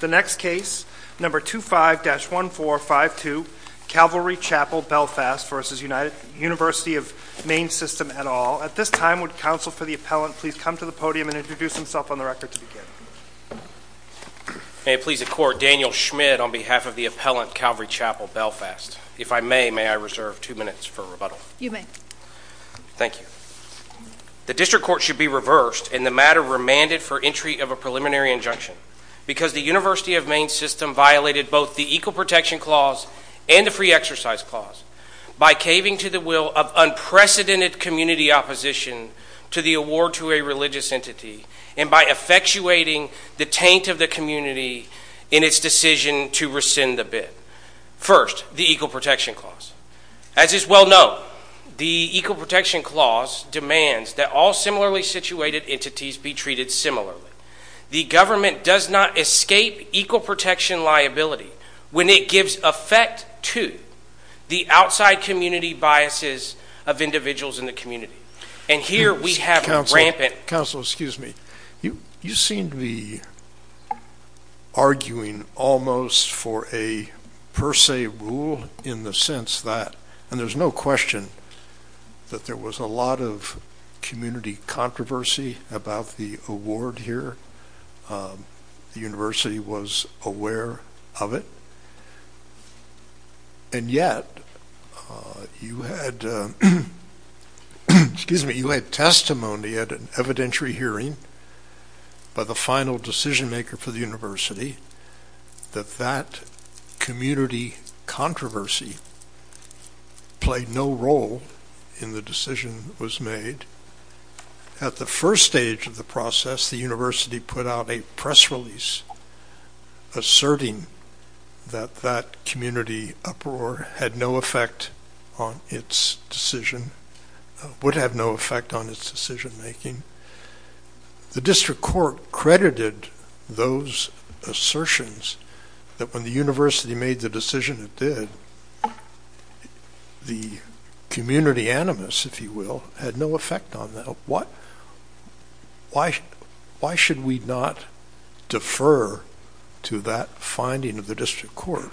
The next case, number 25-1452, Calvary Chapel Belfast v. University of Maine System et al. At this time, would counsel for the appellant please come to the podium and introduce himself on the record to begin? May it please the court, Daniel Schmidt on behalf of the appellant, Calvary Chapel Belfast. If I may, may I reserve two minutes for rebuttal? You may. Thank you. The district court should be reversed in the matter remanded for entry of a preliminary injunction because the University of Maine System violated both the Equal Protection Clause and the Free Exercise Clause by caving to the will of unprecedented community opposition to the award to a religious entity and by effectuating the taint of the community in its decision to rescind the bid. First, the Equal Protection Clause. As is well known, the Equal Protection Clause demands that all similarly situated entities be treated similarly. The government does not escape Equal Protection liability when it gives effect to the outside community biases of individuals in the community. And here we have rampant- Counsel, excuse me. You seem to be arguing almost for a per se rule in the sense that, and there's no question that there was a lot of community controversy about the award here. The University was aware of it. And yet, you had testimony at an evidentiary hearing by the final decision maker for the role in the decision that was made. At the first stage of the process, the university put out a press release asserting that that community uproar had no effect on its decision, would have no effect on its decision making. The district court credited those assertions that when the university made the decision it did, the community animus, if you will, had no effect on them. Why should we not defer to that finding of the district court?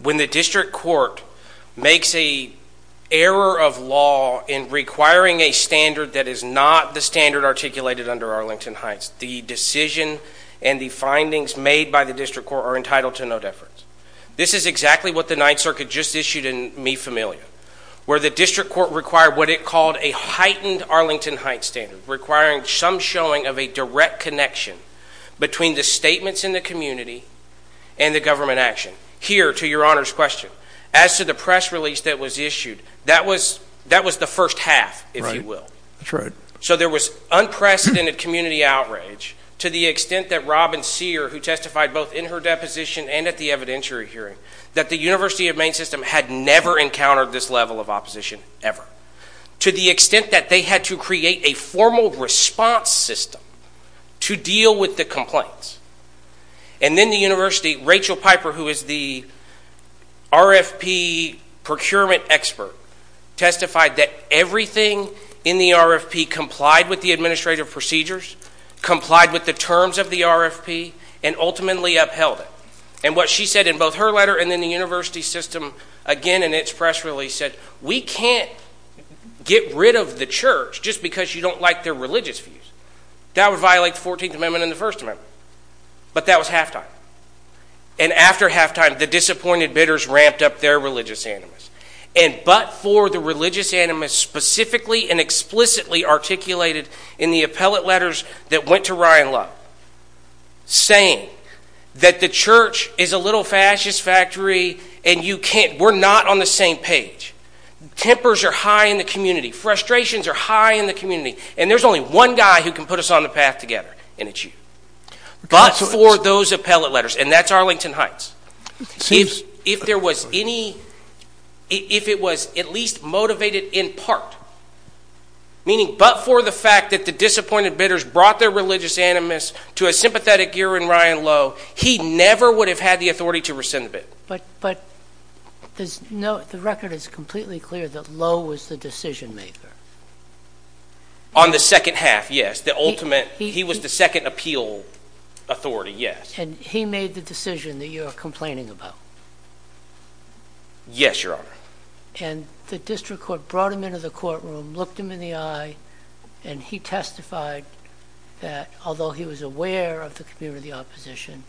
When the district court makes a error of law in requiring a standard that is not the standard articulated under Arlington Heights, the decision and the findings made by the district court are entitled to no deference. This is exactly what the Ninth Circuit just issued in Mi Familia, where the district court required what it called a heightened Arlington Heights standard, requiring some showing of a direct connection between the statements in the community and the government action. Here, to your Honor's question, as to the press release that was issued, that was the first half, if you will. So there was unprecedented community outrage to the extent that Robin Sear, who testified both in her deposition and at the evidentiary hearing, that the University of Maine system had never encountered this level of opposition, ever. To the extent that they had to create a formal response system to deal with the complaints. And then the university, Rachel Piper, who is the RFP procurement expert, testified that everything in the RFP complied with the administrative procedures, complied with the terms of the RFP, and ultimately upheld it. And what she said in both her letter and in the university system, again in its press release, said, we can't get rid of the church just because you don't like their religious views. That would violate the 14th Amendment and the First Amendment. But that was halftime. And after halftime, the disappointed bidders ramped up their religious animus. And but for the religious animus specifically and explicitly articulated in the appellate letters that went to Ryan Love, saying that the church is a little fascist factory and you can't, we're not on the same page, tempers are high in the community, frustrations are high in the community, and there's only one guy who can put us on the path together, and it's you. But for those appellate letters, and that's Arlington Heights, if there was any, if it was at least motivated in part, meaning but for the fact that the disappointed bidders brought their religious animus to a sympathetic gear in Ryan Love, he never would have had the authority to rescind the bid. But the record is completely clear that Love was the decision maker. On the second half, yes. The ultimate, he was the second appeal authority, yes. And he made the decision that you're complaining about. Yes, Your Honor. And the district court brought him into the courtroom, looked him in the eye, and he testified that although he was aware of the community opposition,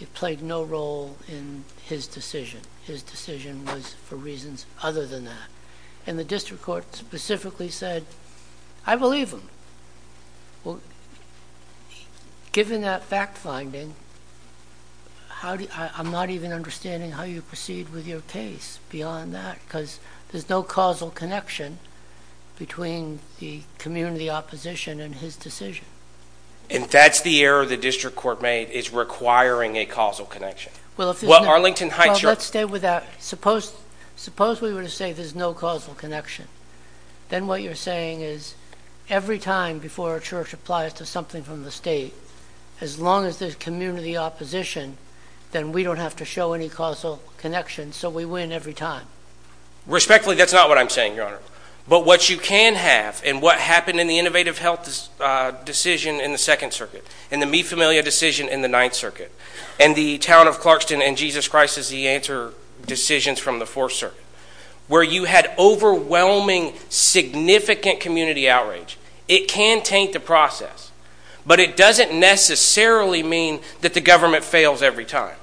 it played no role in his decision. His decision was for reasons other than that. And the district court specifically said, I believe him. Well, given that fact finding, I'm not even understanding how you proceed with your case beyond that, because there's no causal connection between the community opposition and his decision. And that's the error the district court made, is requiring a causal connection. Well, if there's no... Well, Arlington Heights... Well, let's stay with that. Suppose we were to say there's no causal connection. Then what you're saying is every time before a church applies to something from the state, as long as there's community opposition, then we don't have to show any causal connection, so we win every time. Respectfully, that's not what I'm saying, Your Honor. But what you can have, and what happened in the Innovative Health decision in the Second Circuit, and the Mi Familia decision in the Ninth Circuit, and the Town of Clarkston and the Jesus Christ is the answer decisions from the Fourth Circuit, where you had overwhelming significant community outrage, it can taint the process. But it doesn't necessarily mean that the government fails every time.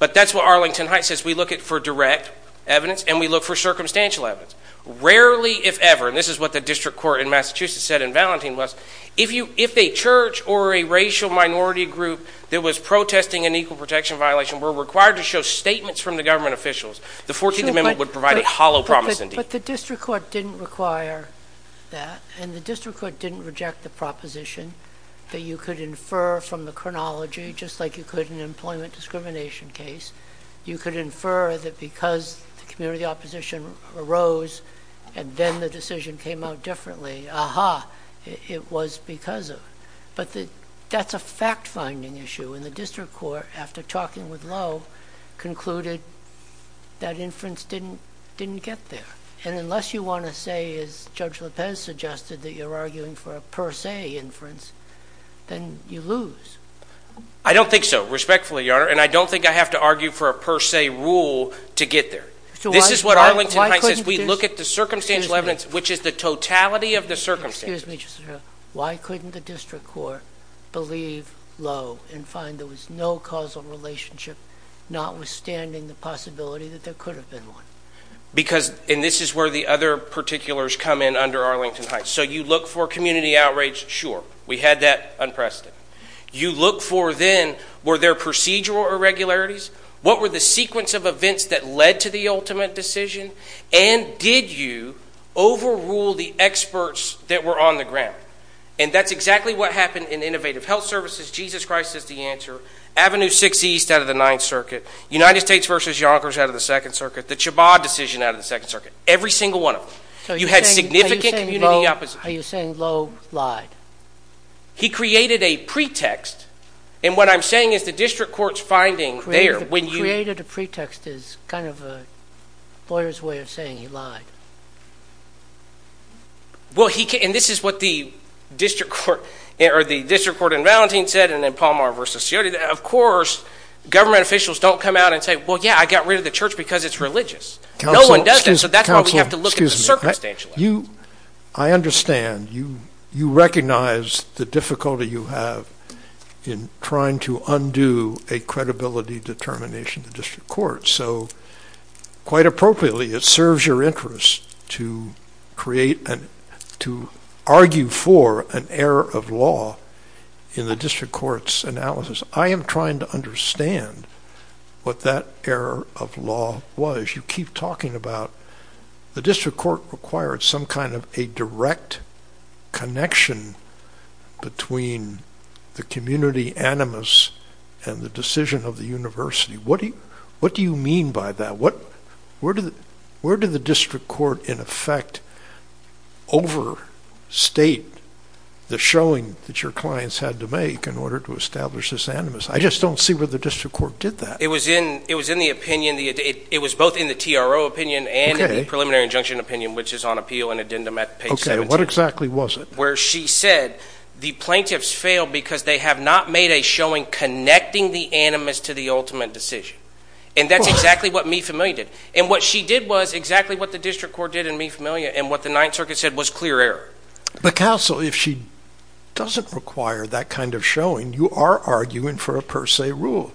But that's what Arlington Heights says. We look for direct evidence, and we look for circumstantial evidence. Rarely, if ever, and this is what the district court in Massachusetts said in Valentin was, if a church or a racial minority group that was protesting an equal protection violation were required to show statements from the government officials, the 14th Amendment would provide a hollow promise indeed. But the district court didn't require that, and the district court didn't reject the proposition that you could infer from the chronology, just like you could in an employment discrimination case, you could infer that because the community opposition arose, and then the decision came out differently, aha, it was because of. But that's a fact-finding issue, and the district court, after talking with Lowe, concluded that inference didn't get there, and unless you want to say, as Judge Lopez suggested, that you're arguing for a per se inference, then you lose. I don't think so, respectfully, Your Honor, and I don't think I have to argue for a per se rule to get there. This is what Arlington Heights says. We look at the circumstantial evidence, which is the totality of the circumstances. Excuse me, just a minute. Why couldn't the district court believe Lowe and find there was no causal relationship, notwithstanding the possibility that there could have been one? Because, and this is where the other particulars come in under Arlington Heights, so you look for community outrage, sure, we had that unprecedented. You look for, then, were there procedural irregularities? What were the sequence of events that led to the ultimate decision, and did you overrule the experts that were on the ground? That's exactly what happened in Innovative Health Services, Jesus Christ is the answer, Avenue 6 East out of the Ninth Circuit, United States versus Yonkers out of the Second Circuit, the Chabot decision out of the Second Circuit, every single one of them. You had significant community opposition. Are you saying Lowe lied? He created a pretext, and what I'm saying is the district court's finding there, when you- He created a pretext is kind of a lawyer's way of saying he lied. Well, he, and this is what the district court, or the district court in Valentin said, and then Palmar versus Ciotti, of course, government officials don't come out and say, well, yeah, I got rid of the church because it's religious. No one does that, so that's why we have to look at the circumstantial evidence. I understand, you recognize the difficulty you have in trying to undo a credibility determination in the district court, so quite appropriately, it serves your interest to create and to argue for an error of law in the district court's analysis. I am trying to understand what that error of law was. You keep talking about the district court required some kind of a direct connection between the community animus and the decision of the university. What do you mean by that? Where did the district court, in effect, overstate the showing that your clients had to make in order to establish this animus? I just don't see where the district court did that. It was in the opinion, it was both in the TRO opinion and the preliminary injunction opinion, which is on appeal and addendum at page 17. Okay, and what exactly was it? Where she said, the plaintiffs failed because they have not made a showing connecting the animus to the ultimate decision, and that's exactly what Me Familia did, and what she did was exactly what the district court did in Me Familia and what the Ninth Circuit said was clear error. But counsel, if she doesn't require that kind of showing, you are arguing for a per se rule.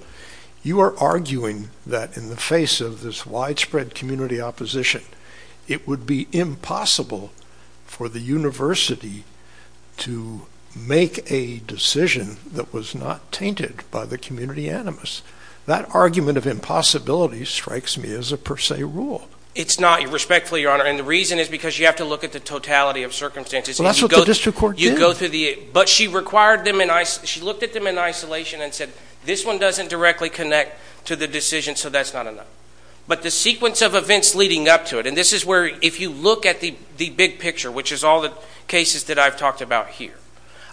You are arguing that in the face of this widespread community opposition, it would be impossible for the university to make a decision that was not tainted by the community animus. That argument of impossibility strikes me as a per se rule. It's not, respectfully, your honor, and the reason is because you have to look at the totality of circumstances. Well, that's what the district court did. But she required them, she looked at them in isolation and said, this one doesn't directly connect to the decision, so that's not enough. But the sequence of events leading up to it, and this is where if you look at the big picture, which is all the cases that I've talked about here,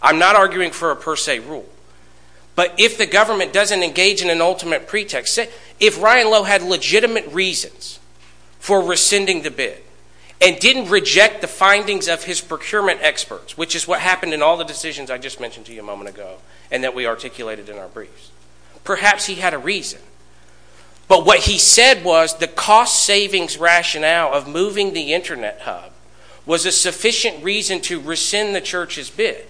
I'm not arguing for a per se rule, but if the government doesn't engage in an ultimate pretext, if Ryan Lowe had legitimate reasons for rescinding the bid and didn't reject the findings of his procurement experts, which is what happened in all the decisions I just mentioned to you a moment ago and that we articulated in our briefs, perhaps he had a reason. But what he said was the cost savings rationale of moving the internet hub was a sufficient reason to rescind the church's bid,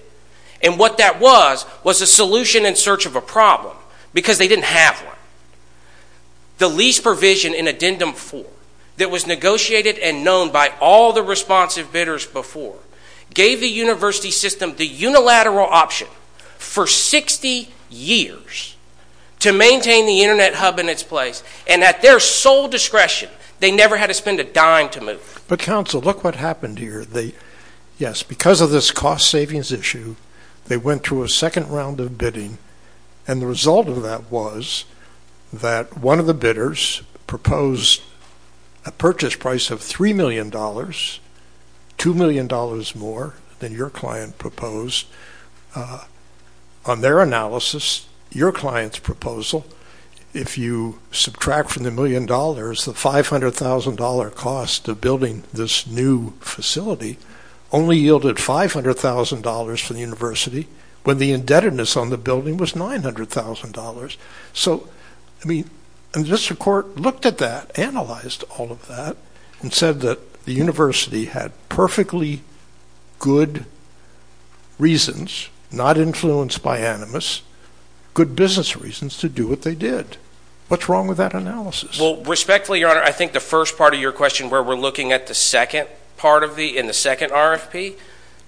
and what that was was a solution in search of a problem because they didn't have one. The lease provision in addendum four that was negotiated and known by all the responsive bidders before gave the university system the unilateral option for 60 years to maintain the internet hub in its place, and at their sole discretion, they never had to spend a dime to move. But counsel, look what happened here. Yes, because of this cost savings issue, they went through a second round of bidding, and the result of that was that one of the bidders proposed a purchase price of $3 million, $2 million more than your client proposed. On their analysis, your client's proposal, if you subtract from the million dollars, the $500,000 cost of building this new facility only yielded $500,000 for the university when the indebtedness on the building was $900,000. So I mean, and the district court looked at that, analyzed all of that, and said that the university had perfectly good reasons, not influenced by animus, good business reasons to do what they did. What's wrong with that analysis? Well, respectfully, your honor, I think the first part of your question where we're looking at the second part of the, in the second RFP,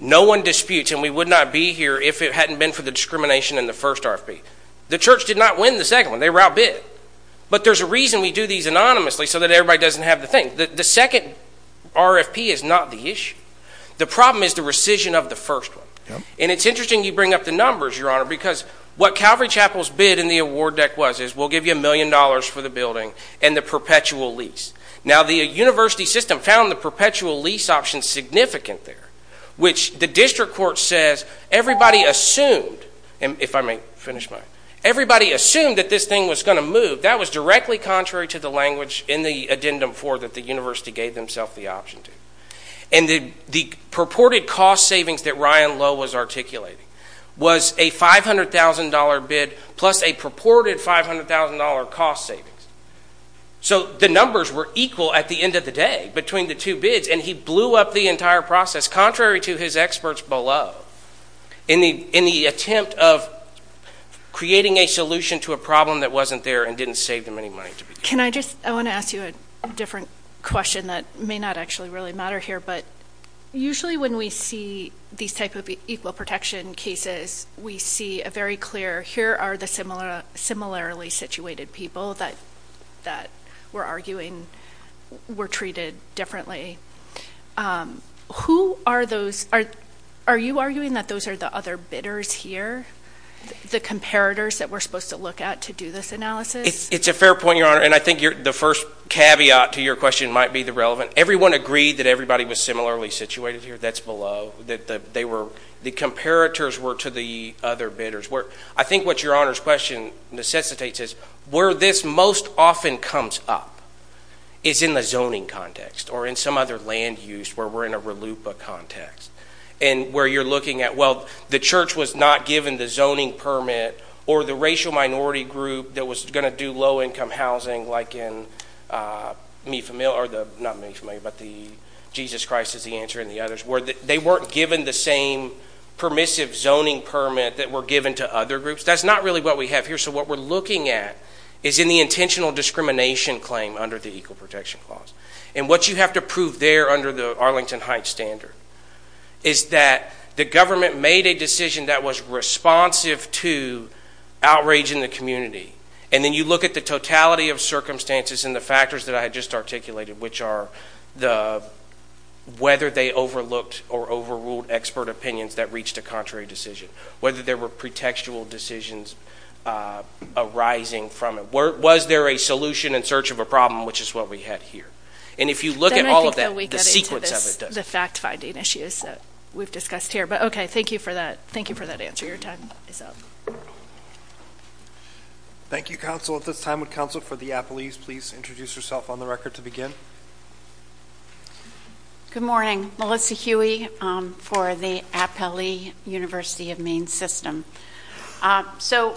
no one disputes, and we would not be here if it hadn't been for the discrimination in the first RFP. The church did not win the second one, they were outbid. But there's a reason we do these anonymously so that everybody doesn't have to think. The second RFP is not the issue. The problem is the rescission of the first one. And it's interesting you bring up the numbers, your honor, because what Calvary Chapel's bid in the award deck was, is we'll give you a million dollars for the building and the perpetual lease. Now the university system found the perpetual lease option significant there, which the district court says everybody assumed, if I may finish my, everybody assumed that this thing was going to move. But that was directly contrary to the language in the addendum four that the university gave themselves the option to. And the purported cost savings that Ryan Lowe was articulating was a $500,000 bid plus a purported $500,000 cost savings. So the numbers were equal at the end of the day between the two bids, and he blew up the entire process, contrary to his experts below, in the attempt of creating a solution to a problem. He didn't save them any money to begin with. Can I just, I want to ask you a different question that may not actually really matter here. But usually when we see these type of equal protection cases, we see a very clear, here are the similarly situated people that we're arguing were treated differently. Who are those? Are you arguing that those are the other bidders here, the comparators that we're supposed to look at to do this analysis? It's a fair point, Your Honor. And I think the first caveat to your question might be the relevant. Everyone agreed that everybody was similarly situated here. That's below. That they were, the comparators were to the other bidders. I think what Your Honor's question necessitates is where this most often comes up is in the zoning context or in some other land use where we're in a RLUIPA context. And where you're looking at, well, the church was not given the zoning permit or the racial minority group that was going to do low-income housing like in the Jesus Christ is the Answer and the others, where they weren't given the same permissive zoning permit that were given to other groups. That's not really what we have here. So what we're looking at is in the intentional discrimination claim under the Equal Protection Clause. And what you have to prove there under the Arlington Heights standard is that the government made a decision that was responsive to outrage in the community. And then you look at the totality of circumstances and the factors that I had just articulated, which are the, whether they overlooked or overruled expert opinions that reached a contrary decision. Whether there were pretextual decisions arising from it. Was there a solution in search of a problem, which is what we had here. And if you look at all of that, the sequence of it does. The fact-finding issues that we've discussed here, but okay. Thank you for that. Thank you for that answer. Your time is up. Thank you, counsel. At this time, would counsel for the appellees please introduce yourself on the record to begin? Good morning, Melissa Huey for the Appellee University of Maine System. So,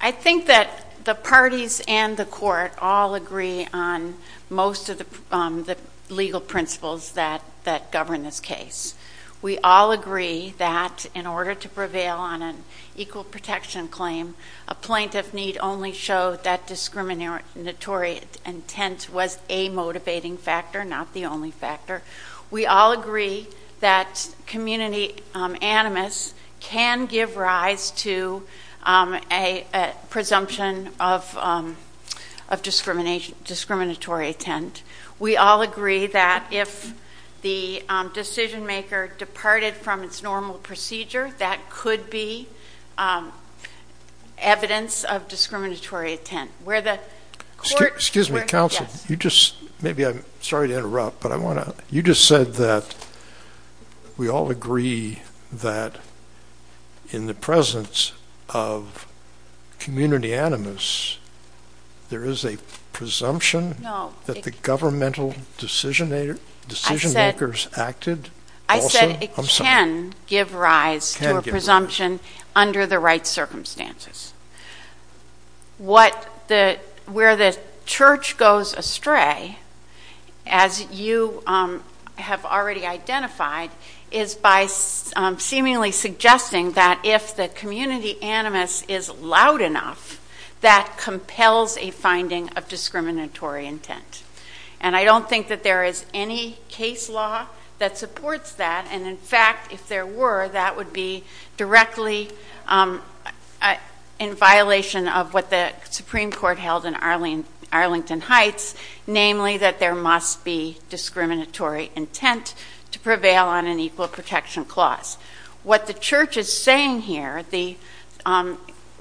I think that the parties and the court all agree on most of the legal principles that govern this case. We all agree that in order to prevail on an equal protection claim, a plaintiff need only show that discriminatory intent was a motivating factor, not the only factor. We all agree that community animus can give rise to a presumption of discriminatory intent. We all agree that if the decision-maker departed from its normal procedure, that could be evidence of discriminatory intent. Where the court... Excuse me, counsel. Yes. You just said that we all agree that in the presence of community animus, there is a presumption that the governmental decision-makers acted also? I said it can give rise to a presumption under the right circumstances. Where the church goes astray, as you have already identified, is by seemingly suggesting that if the community animus is loud enough, that compels a finding of discriminatory intent. And I don't think that there is any case law that supports that and in fact, if there were, that would be directly in violation of what the Supreme Court held in Arlington Heights, namely that there must be discriminatory intent to prevail on an equal protection clause. What the church is saying here,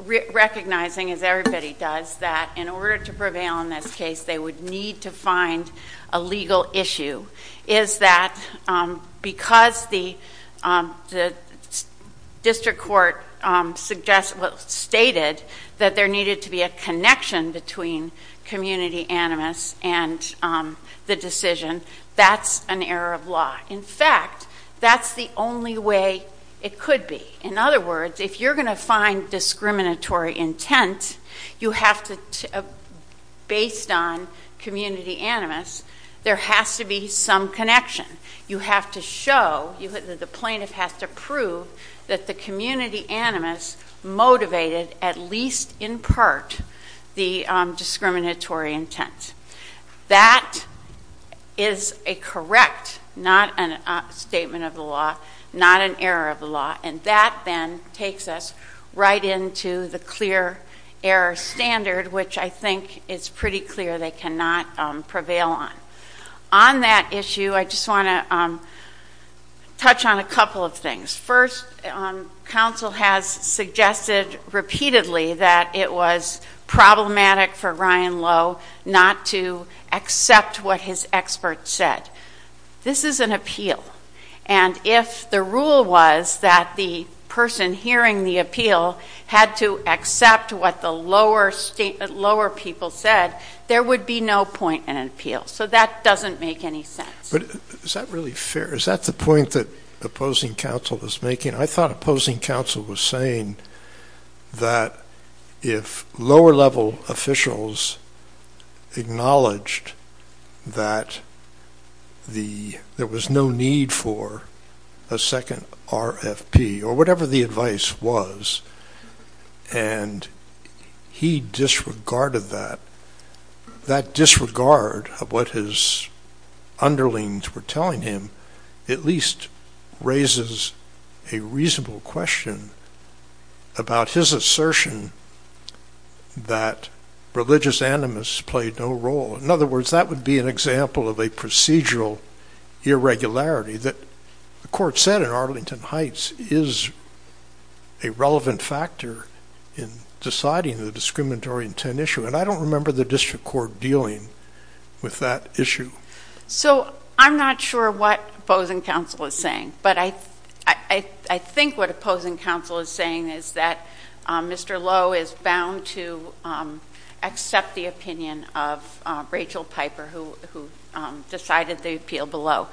recognizing as everybody does, that in order to prevail on this case, they would need to find a legal issue, is that because the district court stated that there needed to be a connection between community animus and the decision, that's an error of law. In fact, that's the only way it could be. In other words, if you're going to find discriminatory intent, you have to, based on community animus, there has to be some connection. You have to show, the plaintiff has to prove that the community animus motivated, at least in part, the discriminatory intent. That is a correct, not a statement of the law, not an error of the law. And that then takes us right into the clear error standard, which I think is pretty clear they cannot prevail on. On that issue, I just want to touch on a couple of things. First, counsel has suggested repeatedly that it was problematic for Ryan Lowe not to accept what his experts said. This is an appeal. And if the rule was that the person hearing the appeal had to accept what the lower people said, there would be no point in an appeal. So that doesn't make any sense. But is that really fair? Is that the point that opposing counsel is making? I thought opposing counsel was saying that if lower level officials acknowledged that there was no need for a second RFP, or whatever the advice was, and he disregarded that, that disregard of what his underlings were telling him at least raises a reasonable question about his assertion that religious animus played no role. In other words, that would be an example of a procedural irregularity that the court said in Arlington Heights is a relevant factor in deciding the discriminatory intent issue. And I don't remember the district court dealing with that issue. So I'm not sure what opposing counsel is saying. But I think what opposing counsel is saying is that Mr. Lowe is bound to accept the opinion of Rachel Piper, who decided the appeal below.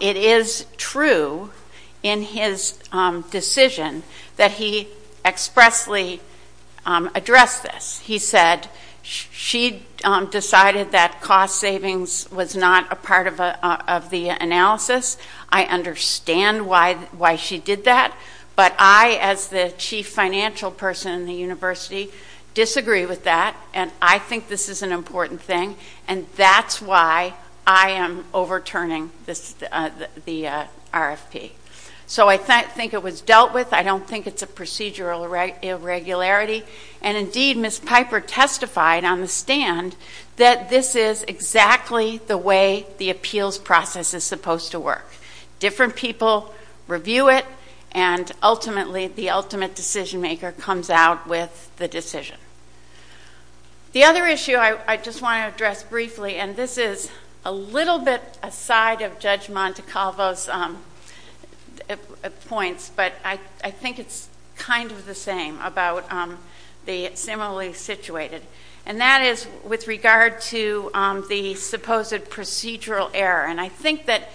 It is true in his decision that he expressly addressed this. He said she decided that cost savings was not a part of the analysis. I understand why she did that. But I, as the chief financial person in the university, disagree with that. And I think this is an important thing. And that's why I am overturning the RFP. So I think it was dealt with. I don't think it's a procedural irregularity. And indeed, Ms. Piper testified on the stand that this is exactly the way the appeals process is supposed to work. Different people review it. And ultimately, the ultimate decision maker comes out with the decision. The other issue I just want to address briefly, and this is a little bit aside of Judge Montecavlo's points, but I think it's kind of the same about the similarly situated. And that is with regard to the supposed procedural error. And I think that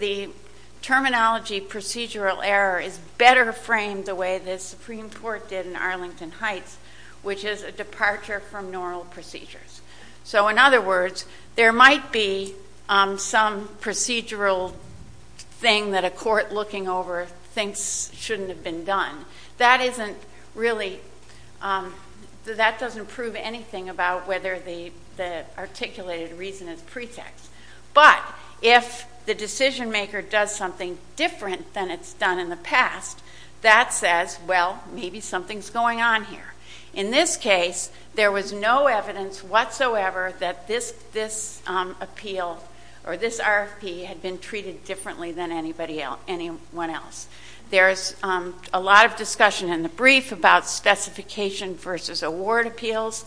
the terminology procedural error is better framed the way the Supreme Court did in Arlington Heights, which is a departure from normal procedures. So in other words, there might be some procedural thing that a court looking over thinks shouldn't have been done. That isn't really, that doesn't prove anything about whether the articulated reason is pretext. But if the decision maker does something different than it's done in the past, that says, well, maybe something's going on here. In this case, there was no evidence whatsoever that this appeal or this RFP had been treated differently than anyone else. There's a lot of discussion in the brief about specification versus award appeals.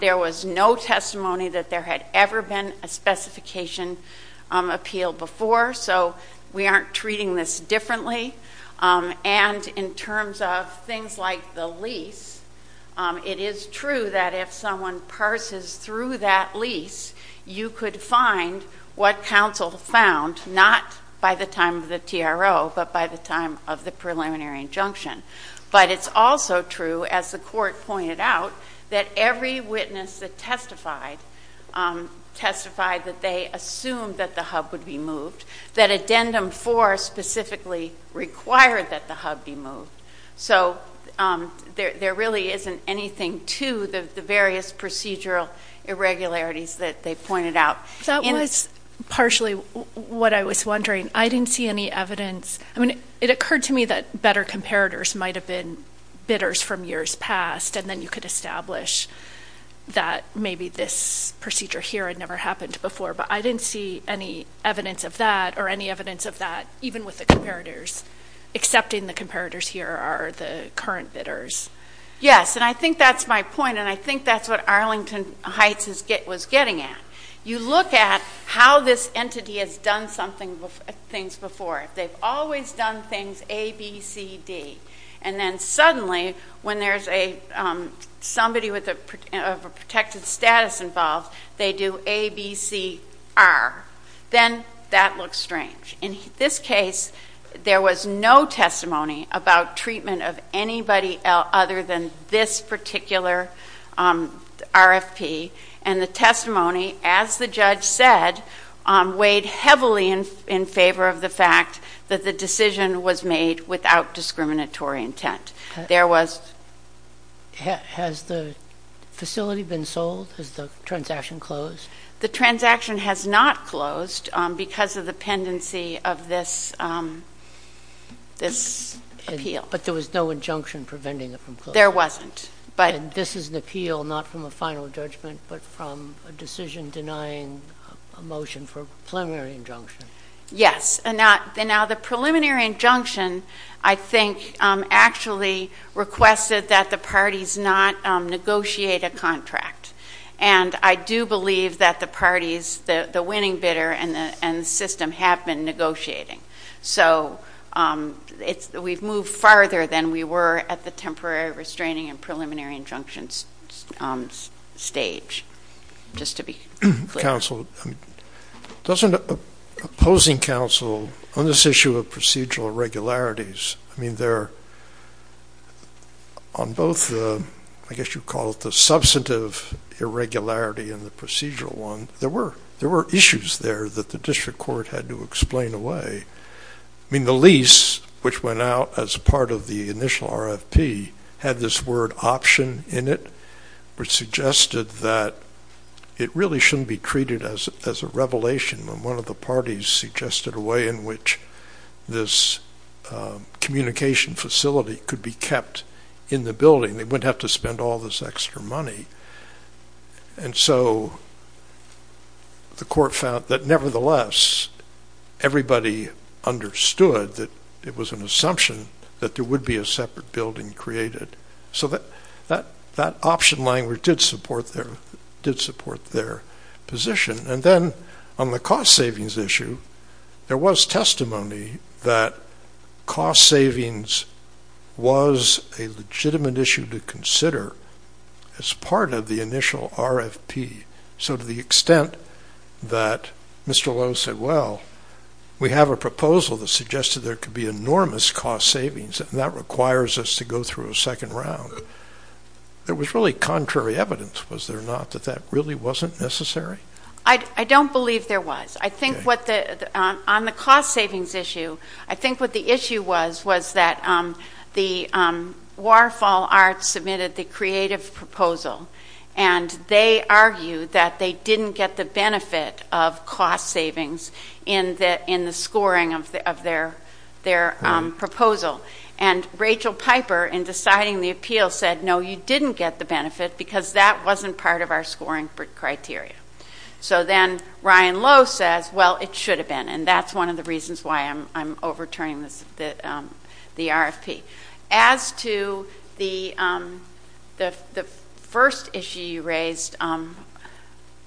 There was no testimony that there had ever been a specification appeal before. So we aren't treating this differently. And in terms of things like the lease, it is true that if someone parses through that lease, you could find what counsel found, not by the time of the TRO, but by the time of the preliminary injunction. But it's also true, as the court pointed out, that every witness that testified, testified that they assumed that the hub would be moved, that addendum four specifically required that the hub be moved. So there really isn't anything to the various procedural irregularities that they pointed out. That was partially what I was wondering. I didn't see any evidence. It occurred to me that better comparators might have been bidders from years past, and then you could establish that maybe this procedure here had never happened before. But I didn't see any evidence of that, or any evidence of that, even with the comparators, except in the comparators here are the current bidders. Yes. And I think that's my point, and I think that's what Arlington Heights was getting at. You look at how this entity has done things before. They've always done things A, B, C, D. And then suddenly, when there's a, somebody with a protected status involved, they do A, B, C, R. Then that looks strange. In this case, there was no testimony about treatment of anybody other than this particular RFP. And the testimony, as the judge said, weighed heavily in favor of the fact that the decision was made without discriminatory intent. There was... Has the facility been sold? Has the transaction closed? The transaction has not closed because of the pendency of this appeal. But there was no injunction preventing it from closing? There wasn't. And this is an appeal not from a final judgment, but from a decision denying a motion for a preliminary injunction? Yes. Now, the preliminary injunction, I think, actually requested that the parties not negotiate a contract. And I do believe that the parties, the winning bidder and the system, have been negotiating. So we've moved farther than we were at the temporary restraining and preliminary injunctions stage, just to be clear. Counsel, doesn't opposing counsel, on this issue of procedural irregularities, I mean, they're on both, I guess you'd call it the substantive irregularity and the procedural one, there were issues there that the district court had to explain away. I mean, the lease, which went out as part of the initial RFP, had this word option in it, which suggested that it really shouldn't be treated as a revelation, when one of the parties suggested a way in which this communication facility could be kept in the building, they wouldn't have to spend all this extra money. And so the court found that nevertheless, everybody understood that it was an assumption that there would be a separate building created. So that option language did support their position. And then on the cost savings issue, there was testimony that cost savings was a legitimate issue to consider as part of the initial RFP. So to the extent that Mr. Lowe said, well, we have a proposal that suggested there could be enormous cost savings, and that requires us to go through a second round. There was really contrary evidence, was there not, that that really wasn't necessary? I don't believe there was. I think what the, on the cost savings issue, I think what the issue was, was that the Waterfall Arts submitted the creative proposal, and they argued that they didn't get the benefit of cost savings in the scoring of their proposal. And Rachel Piper, in deciding the appeal, said, no, you didn't get the benefit because that wasn't part of our scoring criteria. So then Ryan Lowe says, well, it should have been. And that's one of the reasons why I'm overturning the RFP. As to the first issue you raised.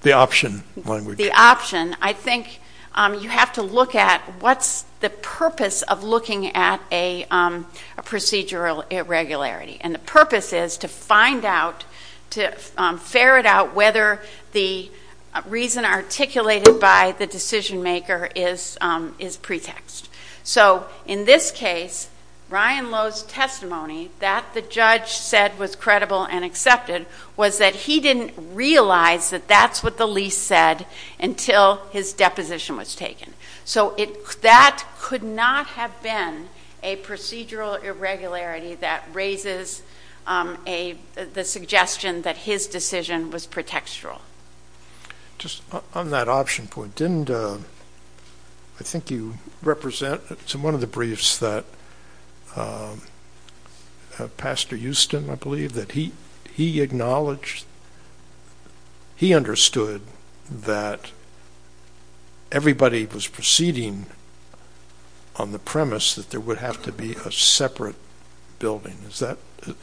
The option language. I think you have to look at what's the purpose of looking at a procedural irregularity. And the purpose is to find out, to ferret out whether the reason articulated by the decision maker is pretext. So in this case, Ryan Lowe's testimony, that the judge said was credible and accepted, was that he didn't realize that that's what the lease said until his deposition was taken. So that could not have been a procedural irregularity that raises the suggestion that his decision was pretextual. Just on that option point, didn't, I think you represent, in one of the briefs that Pastor Houston, I believe, that he acknowledged, he understood that everybody was proceeding on the premise that there would have to be a separate building. Is that?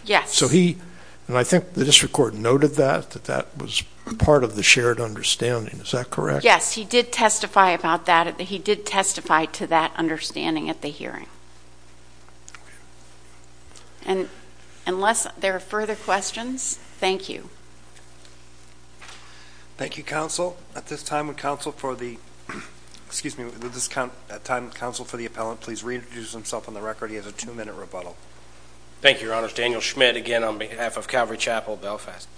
Yes. So he, and I think the district court noted that, that that was part of the shared understanding. Is that correct? Yes. He did testify about that. Understanding at the hearing. And unless there are further questions, thank you. Thank you, counsel. At this time, counsel for the, excuse me, at this time, counsel for the appellant, please reintroduce himself on the record. He has a two-minute rebuttal. Thank you, your honors. Daniel Schmidt, again, on behalf of Calvary Chapel Belfast.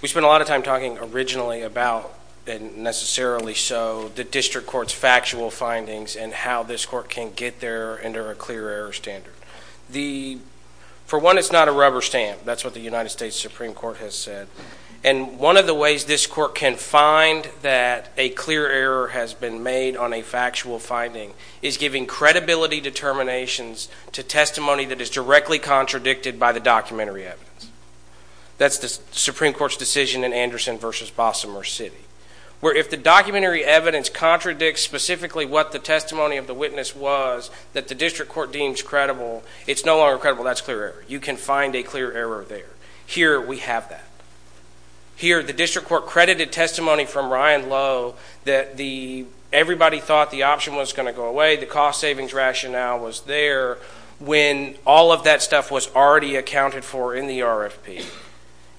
We spent a lot of time talking originally about, and necessarily so, the district court's factual findings and how this court can get there under a clear error standard. The, for one, it's not a rubber stamp. That's what the United States Supreme Court has said. And one of the ways this court can find that a clear error has been made on a factual finding is giving credibility determinations to testimony that is directly contradicted by the documentary evidence. That's the Supreme Court's decision in Anderson versus Bossa Merced, where if the documentary evidence contradicts specifically what the testimony of the witness was that the district court deems credible, it's no longer credible. That's clear error. You can find a clear error there. Here, we have that. Here, the district court credited testimony from Ryan Lowe that the everybody thought the option was going to go away. The cost savings rationale was there when all of that stuff was already accounted for in the RFP,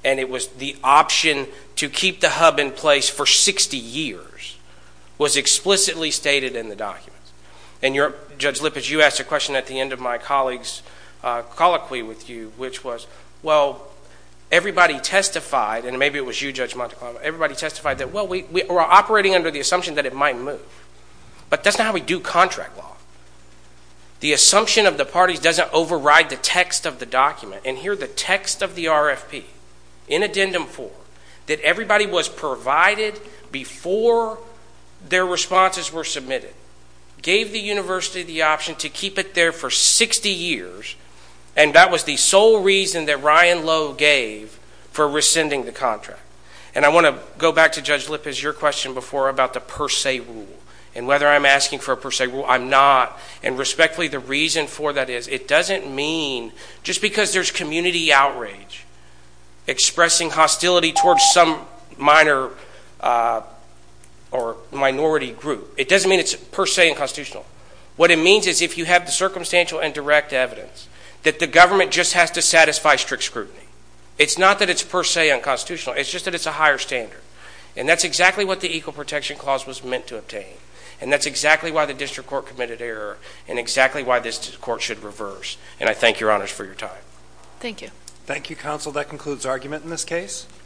and it was the option to keep the hub in place for 60 years was explicitly stated in the documents. And you're, Judge Lippitz, you asked a question at the end of my colleague's colloquy with you, which was, well, everybody testified, and maybe it was you, Judge Monteclava. Everybody testified that, well, we are operating under the assumption that it might move. But that's not how we do contract law. The assumption of the parties doesn't override the text of the document. And here, the text of the RFP, in addendum form, that everybody was provided before their responses were submitted, gave the university the option to keep it there for 60 years, and that was the sole reason that Ryan Lowe gave for rescinding the contract. And I want to go back to, Judge Lippitz, your question before about the per se rule and whether I'm asking for a per se rule. I'm not. And respectfully, the reason for that is it doesn't mean, just because there's community outrage expressing hostility towards some minor or minority group, it doesn't mean it's per se unconstitutional. What it means is if you have the circumstantial and direct evidence that the government just has to satisfy strict scrutiny. It's not that it's per se unconstitutional. It's just that it's a higher standard. And that's exactly what the Equal Protection Clause was meant to obtain. And that's exactly why the district court committed error and exactly why this court should reverse. And I thank your honors for your time. Thank you. Thank you, counsel. That concludes argument in this case.